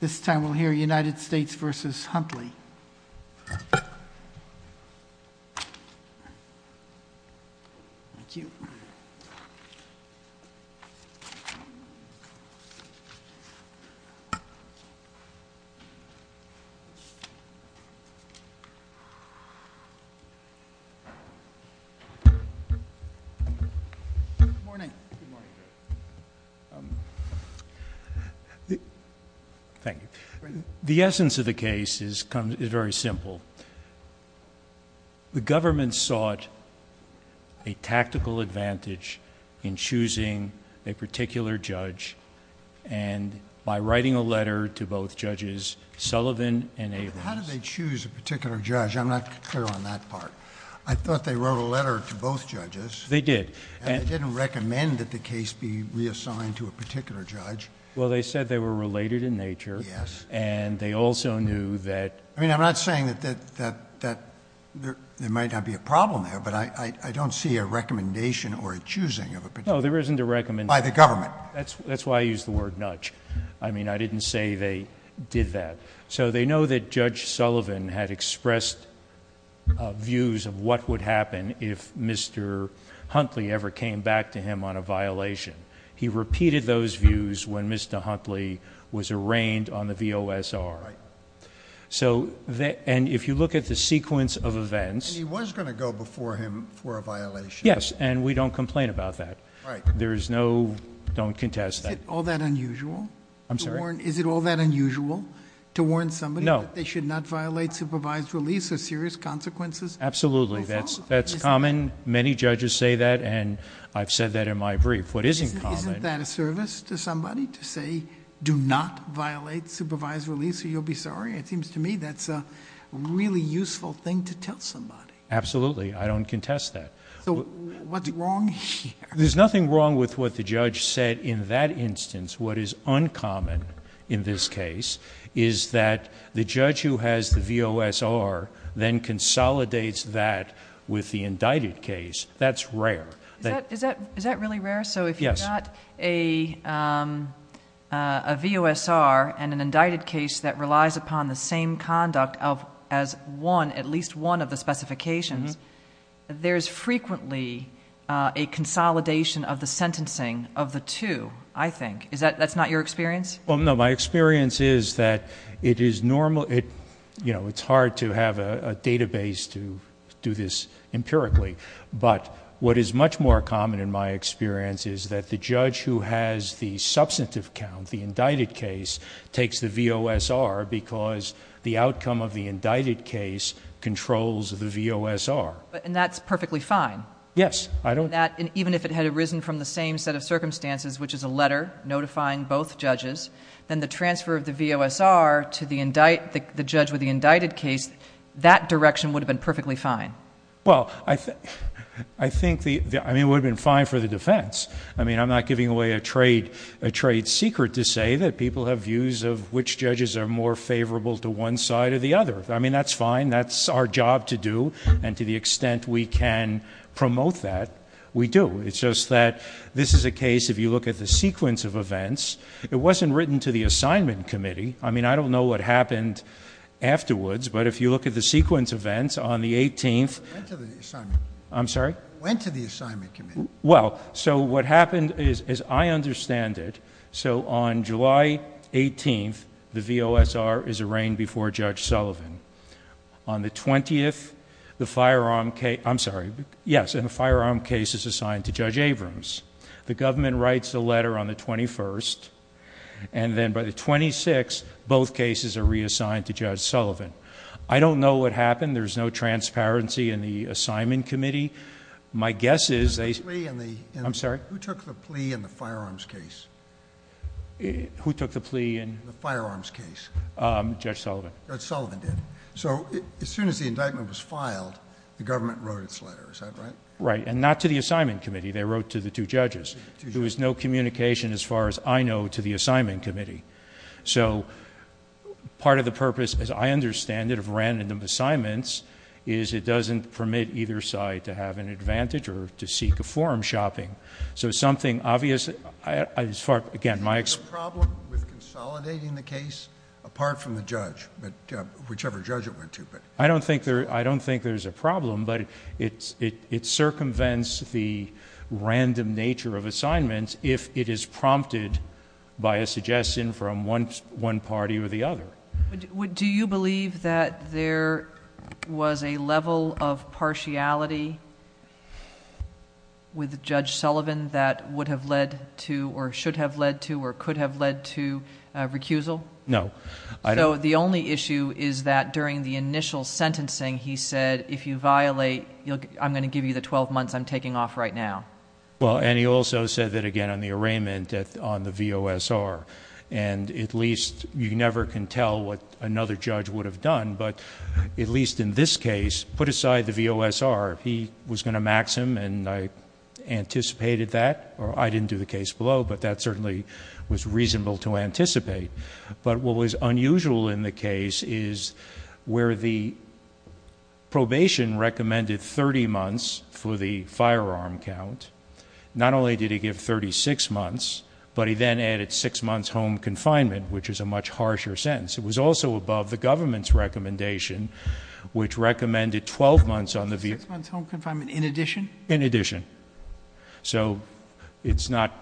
This time we'll hear United States v. Huntley. Thank you. Good morning. Good morning. Thank you. The essence of the case is very simple. The government sought a tactical advantage in choosing a particular judge and by writing a letter to both judges, Sullivan and Averins. How did they choose a particular judge? I'm not clear on that part. I thought they wrote a letter to both judges. They did. And they didn't recommend that the case be reassigned to a particular judge. Well, they said they were related in nature. Yes. And they also knew that... I mean, I'm not saying that there might not be a problem there, but I don't see a recommendation or a choosing of a particular judge. No, there isn't a recommendation. By the government. That's why I used the word nudge. I mean, I didn't say they did that. So they know that Judge Sullivan had expressed views of what would happen if Mr. Huntley ever came back to him on a violation. He repeated those views when Mr. Huntley was arraigned on the VOSR. Right. And if you look at the sequence of events... And he was going to go before him for a violation. Yes, and we don't complain about that. There is no, don't contest that. Is it all that unusual? I'm sorry? Is it all that unusual to warn somebody... No. ...that they should not violate supervised release of serious consequences? Absolutely. That's common. Many judges say that and I've said that in my brief. What is in common... Isn't that a service to somebody to say, do not violate supervised release or you'll be sorry? It seems to me that's a really useful thing to tell somebody. Absolutely. I don't contest that. So what's wrong here? There's nothing wrong with what the judge said in that instance. What is uncommon in this case is that the judge who has the VOSR then consolidates that with the indicted case. That's rare. Is that really rare? Yes. So if you've got a VOSR and an indicted case that relies upon the same conduct as one, at least one of the specifications, there's frequently a consolidation of the sentencing of the two, I think. That's not your experience? No. My experience is that it's hard to have a database to do this empirically. But what is much more common in my experience is that the judge who has the substantive count, the indicted case, takes the VOSR because the outcome of the indicted case controls the VOSR. And that's perfectly fine? Yes. Even if it had arisen from the same set of circumstances, which is a letter notifying both judges, then the transfer of the VOSR to the judge with the indicted case, that direction would have been perfectly fine? Well, I think it would have been fine for the defense. I mean, I'm not giving away a trade secret to say that people have views of which judges are more favorable to one side or the other. I mean, that's fine. That's our job to do, and to the extent we can promote that, we do. It's just that this is a case, if you look at the sequence of events, it wasn't written to the assignment committee. I mean, I don't know what happened afterwards, but if you look at the sequence of events, on the 18th... It went to the assignment committee. I'm sorry? It went to the assignment committee. Well, so what happened is, as I understand it, so on July 18th, the VOSR is arraigned before Judge Sullivan. On the 20th, the firearm case... I'm sorry. Yes, and the firearm case is assigned to Judge Abrams. The government writes the letter on the 21st, and then by the 26th, both cases are reassigned to Judge Sullivan. I don't know what happened. There's no transparency in the assignment committee. My guess is they... Who took the plea in the firearms case? Who took the plea in... The firearms case. Judge Sullivan. Judge Sullivan did. So, as soon as the indictment was filed, the government wrote its letter. Is that right? Right, and not to the assignment committee. They wrote to the two judges. There was no communication, as far as I know, to the assignment committee. So, part of the purpose, as I understand it, of random assignments is it doesn't permit either side to have an advantage or to seek a forum shopping. So, something obvious... Again, my... Is there a problem with consolidating the case, apart from the judge, whichever judge it went to? I don't think there's a problem, but it circumvents the random nature of assignments, if it is prompted by a suggestion from one party or the other. Do you believe that there was a level of partiality with Judge Sullivan that would have led to, or should have led to, or could have led to, recusal? No. So, the only issue is that during the initial sentencing, he said, if you violate, I'm going to give you the twelve months I'm taking off right now. Well, and he also said that, again, on the arraignment on the VOSR, and at least you never can tell what another judge would have done, but at least in this case, put aside the VOSR. He was going to max him, and I anticipated that. I didn't do the case below, but that certainly was reasonable to anticipate. But what was unusual in the case is where the probation recommended 30 months for the firearm count, not only did he give 36 months, but he then added six months home confinement, which is a much harsher sentence. It was also above the government's recommendation, which recommended 12 months on the vehicle. Six months home confinement in addition? In addition. So, it's not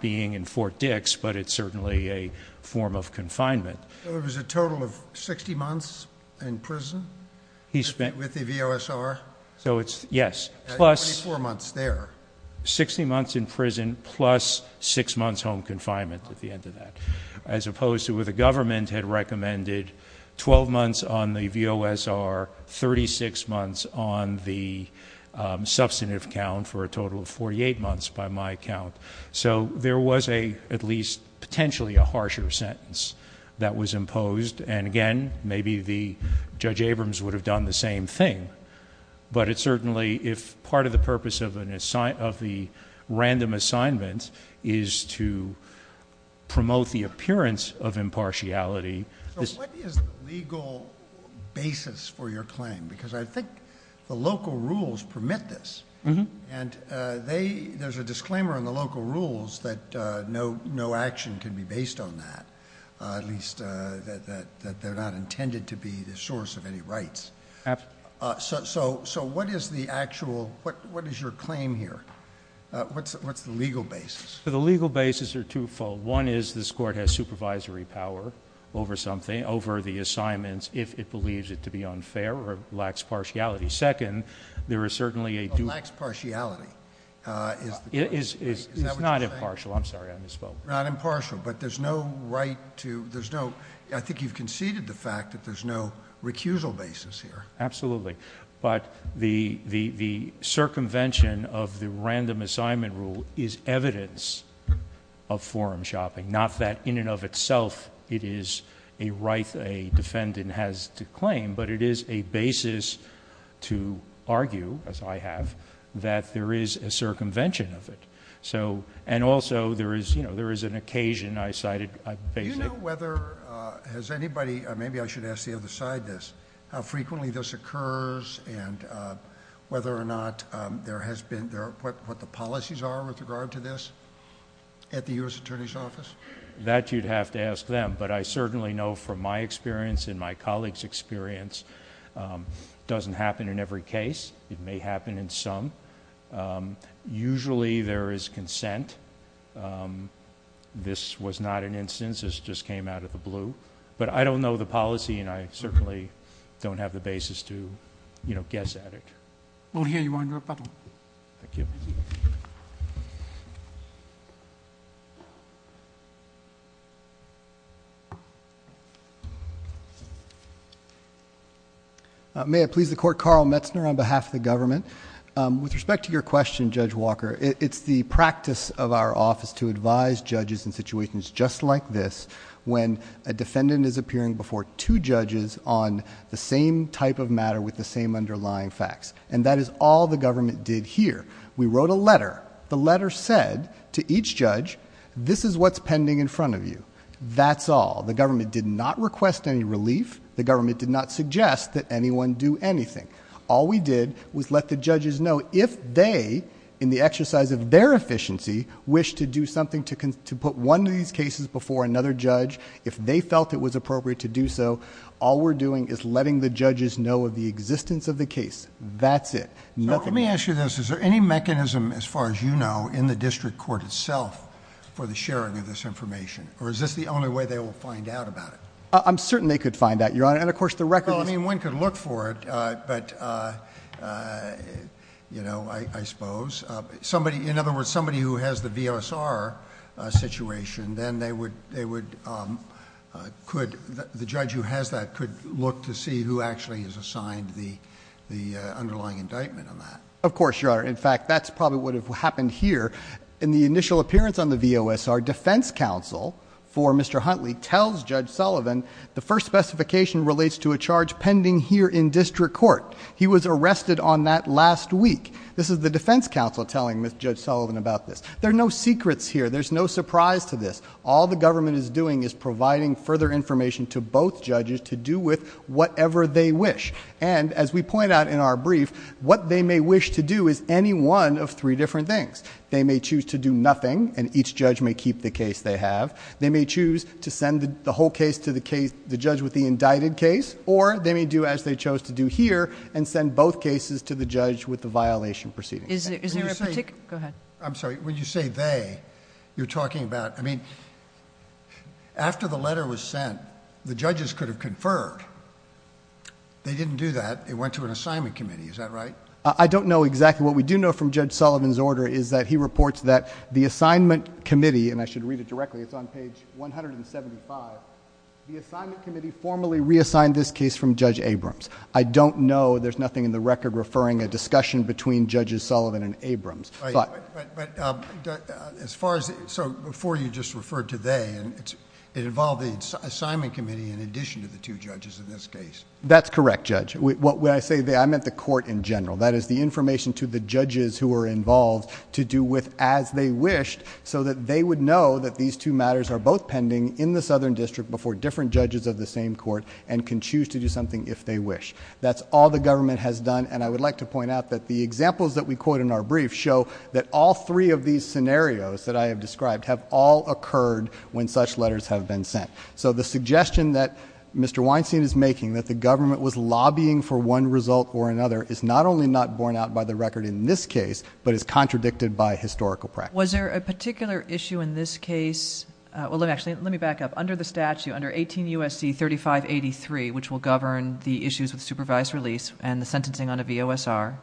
being in Fort Dix, but it's certainly a form of confinement. So, it was a total of 60 months in prison with the VOSR? Yes. 24 months there. Sixty months in prison plus six months home confinement at the end of that, as opposed to where the government had recommended 12 months on the VOSR, 36 months on the substantive count for a total of 48 months by my count. So, there was at least potentially a harsher sentence that was imposed, and again, maybe Judge Abrams would have done the same thing. But it certainly, if part of the purpose of the random assignment is to promote the appearance of impartiality. So, what is the legal basis for your claim? Because I think the local rules permit this. And there's a disclaimer in the local rules that no action can be based on that, at least that they're not intended to be the source of any rights. Absolutely. So, what is the actual, what is your claim here? What's the legal basis? So, the legal basis are twofold. One is this court has supervisory power over something, over the assignments, if it believes it to be unfair or lacks partiality. Second, there is certainly a dual. Lacks partiality. Is that what you're saying? It's not impartial. I'm sorry, I misspoke. Not impartial, but there's no right to, there's no, I think you've conceded the fact that there's no recusal basis here. Absolutely. But the circumvention of the random assignment rule is evidence of forum shopping. Not that in and of itself it is a right a defendant has to claim, but it is a basis to argue, as I have, that there is a circumvention of it. So, and also there is, you know, there is an occasion I cited... Do you know whether, has anybody, maybe I should ask the other side this, how frequently this occurs and whether or not there has been, what the policies are with regard to this at the U.S. Attorney's Office? That you'd have to ask them, but I certainly know from my experience and my colleagues' experience, it doesn't happen in every case. It may happen in some. Usually there is consent. This was not an instance, this just came out of the blue. But I don't know the policy and I certainly don't have the basis to, you know, guess at it. We'll hear you on rebuttal. Thank you. May I please the Court? Carl Metzner on behalf of the government. With respect to your question, Judge Walker, it's the practice of our office to advise judges in situations just like this when a defendant is appearing before two judges on the same type of matter with the same underlying facts. And that is all the government did here. We wrote a letter. The letter said to each judge, this is what's pending in front of you. That's all. The government did not request any relief. The government did not suggest that anyone do anything. All we did was let the judges know if they, in the exercise of their efficiency, wish to do something to put one of these cases before another judge, if they felt it was appropriate to do so, all we're doing is letting the judges know of the existence of the case. That's it. Nothing more. Let me ask you this. Is there any mechanism, as far as you know, in the district court itself for the sharing of this information? Or is this the only way they will find out about it? I'm certain they could find out, Your Honor. And, of course, the records... Well, I mean, one could look for it, but, you know, I suppose. In other words, somebody who has the V.O.S.R. situation, then the judge who has that could look to see who actually is assigned the underlying indictment on that. Of course, Your Honor. In fact, that's probably what would have happened here. In the initial appearance on the V.O.S.R., defense counsel for Mr. Huntley tells Judge Sullivan the first specification relates to a charge pending here in district court. He was arrested on that last week. This is the defense counsel telling Judge Sullivan about this. There are no secrets here. There's no surprise to this. All the government is doing is providing further information to both judges to do with whatever they wish. And, as we point out in our brief, what they may wish to do is any one of three different things. They may choose to do nothing, and each judge may keep the case they have. They may choose to send the whole case to the judge with the indicted case, or they may do as they chose to do here and send both cases to the judge with the violation proceeding. Is there a particular... Go ahead. I'm sorry. When you say they, you're talking about... I mean, after the letter was sent, the judges could have conferred. They didn't do that. It went to an assignment committee. Is that right? I don't know exactly. What we do know from Judge Sullivan's order is that he reports that the assignment committee, and I should read it directly. It's on page 175. The assignment committee formally reassigned this case from Judge Abrams. I don't know. There's nothing in the record referring a discussion between Judges Sullivan and Abrams. As far as... Before you just referred to they, it involved the assignment committee in addition to the two judges in this case. That's correct, Judge. When I say they, I meant the court in general. That is the information to the judges who are involved to do with as they wished so that they would know that these two matters are both pending in the Southern District before different judges of the same court and can choose to do something if they wish. That's all the government has done. I would like to point out that the examples that we quote in our brief show that all three of these scenarios that I have described have all occurred when such letters have been sent. The suggestion that Mr. Weinstein is making that the government was lobbying for one result or another is not only not borne out by the record in this case, but is contradicted by historical practice. Was there a particular issue in this case... Actually, let me back up. Under the statute, under 18 U.S.C. 3583, which will govern the issues with supervised release and the sentencing on a VOSR,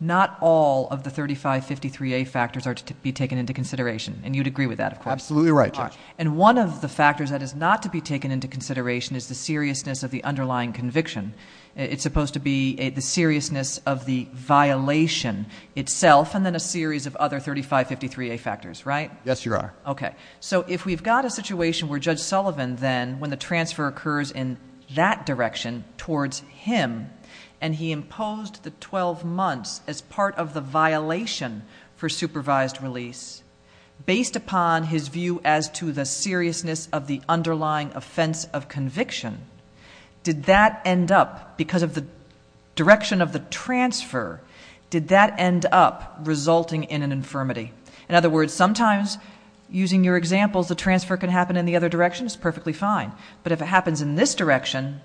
not all of the 3553A factors are to be taken into consideration. You would agree with that, of course. Absolutely right, Judge. One of the factors that is not to be taken into consideration is the seriousness of the underlying conviction. It's supposed to be the seriousness of the violation itself and then a series of other 3553A factors, right? Yes, you are. Okay. So if we've got a situation where Judge Sullivan then, when the transfer occurs in that direction towards him and he imposed the 12 months as part of the violation for supervised release, based upon his view as to the seriousness of the underlying offense of conviction, did that end up, because of the direction of the transfer, did that end up resulting in an infirmity? In other words, sometimes using your examples, the transfer can happen in the other direction, it's perfectly fine. But if it happens in this direction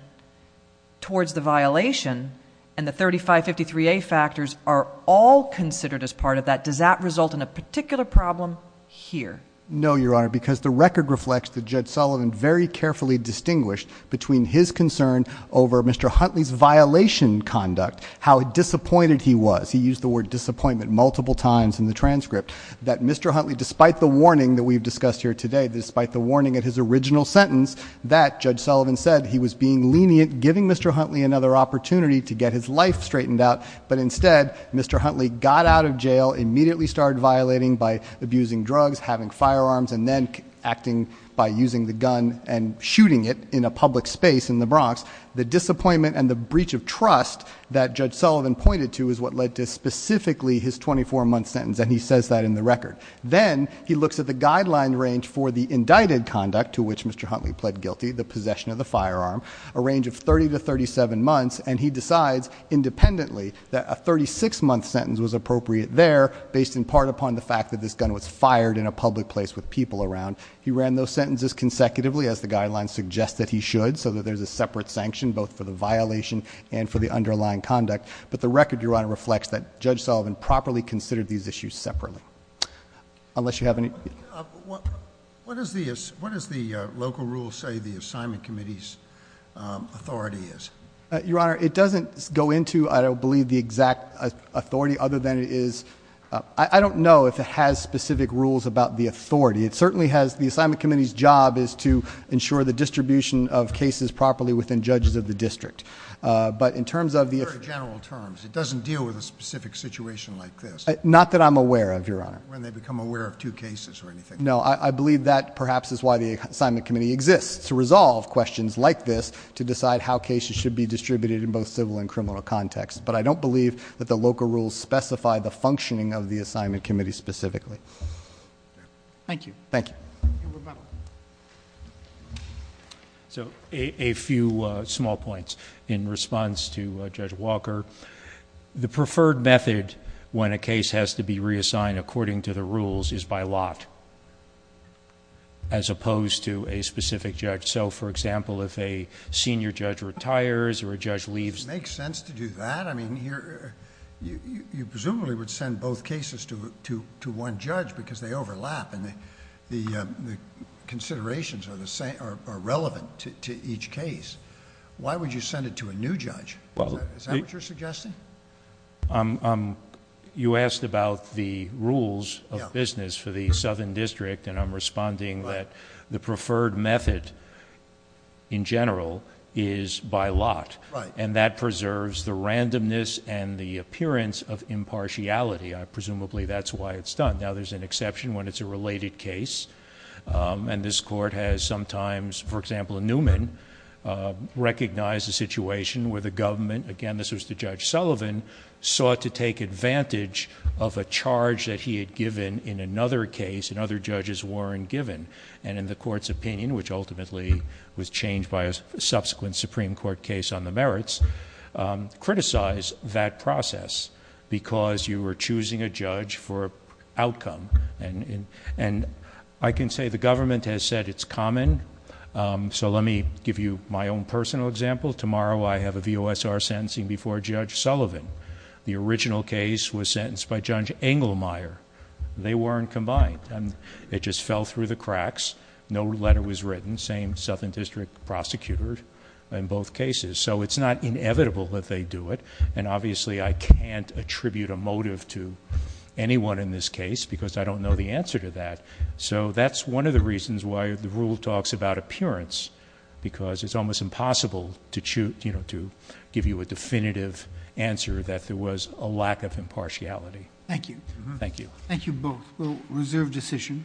towards the violation and the 3553A factors are all considered as part of that, does that result in a particular problem here? No, Your Honor, because the record reflects that Judge Sullivan very carefully distinguished between his concern over Mr. Huntley's violation conduct, how disappointed he was. He used the word disappointment multiple times in the transcript, that Mr. Huntley, despite the warning that we've discussed here today, despite the warning in his original sentence that Judge Sullivan said he was being lenient, giving Mr. Huntley another opportunity to get his life straightened out, but instead Mr. Huntley got out of jail, immediately started violating by abusing drugs, having firearms, and then acting by using the gun and shooting it in a public space in the Bronx. The disappointment and the breach of trust that Judge Sullivan pointed to is what led to specifically his 24-month sentence, and he says that in the record. Then he looks at the guideline range for the indicted conduct to which Mr. Huntley pled guilty, the possession of the firearm, a range of 30 to 37 months, and he decides independently that a 36-month sentence was appropriate there, based in part upon the fact that this gun was fired in a public place with people around. He ran those sentences consecutively, as the guidelines suggest that he should, so that there's a separate sanction both for the violation and for the underlying conduct. But the record, Your Honor, reflects that Judge Sullivan properly considered these issues separately. Unless you have any... What does the local rule say the assignment committee's authority is? Your Honor, it doesn't go into, I don't believe, the exact authority other than it is... I don't know if it has specific rules about the authority. It certainly has... the assignment committee's job is to ensure the distribution of cases properly within judges of the district. But in terms of the... In very general terms, it doesn't deal with a specific situation like this. Not that I'm aware of, Your Honor. When they become aware of two cases or anything like that. No, I believe that perhaps is why the assignment committee exists, to resolve questions like this, to decide how cases should be distributed in both civil and criminal contexts. But I don't believe that the local rules specify the functioning of the assignment committee specifically. Thank you. Thank you. Your rebuttal. So, a few small points in response to Judge Walker. The preferred method when a case has to be reassigned according to the rules is by lot. As opposed to a specific judge. So, for example, if a senior judge retires or a judge leaves... It makes sense to do that. I mean, you presumably would send both cases to one judge because they overlap. And the considerations are relevant to each case. Why would you send it to a new judge? Is that what you're suggesting? You asked about the rules of business for the southern district. And I'm responding that the preferred method, in general, is by lot. And that preserves the randomness and the appearance of impartiality. Presumably, that's why it's done. Now, there's an exception when it's a related case. And this Court has sometimes... For example, Newman recognized a situation where the government... Again, this was to Judge Sullivan... sought to take advantage of a charge that he had given in another case and other judges weren't given. And in the Court's opinion, which ultimately was changed by a subsequent Supreme Court case on the merits... And, I can say the government has said it's common. So, let me give you my own personal example. Tomorrow, I have a VOSR sentencing before Judge Sullivan. The original case was sentenced by Judge Engelmeyer. They weren't combined. And, it just fell through the cracks. No letter was written. Same southern district prosecutor in both cases. So, it's not inevitable that they do it. And obviously, I can't attribute a motive to anyone in this case, because I don't know the answer to that. So, that's one of the reasons why the rule talks about appearance. Because, it's almost impossible to give you a definitive answer that there was a lack of impartiality. Thank you. Thank you. Thank you both. Well, reserve decision.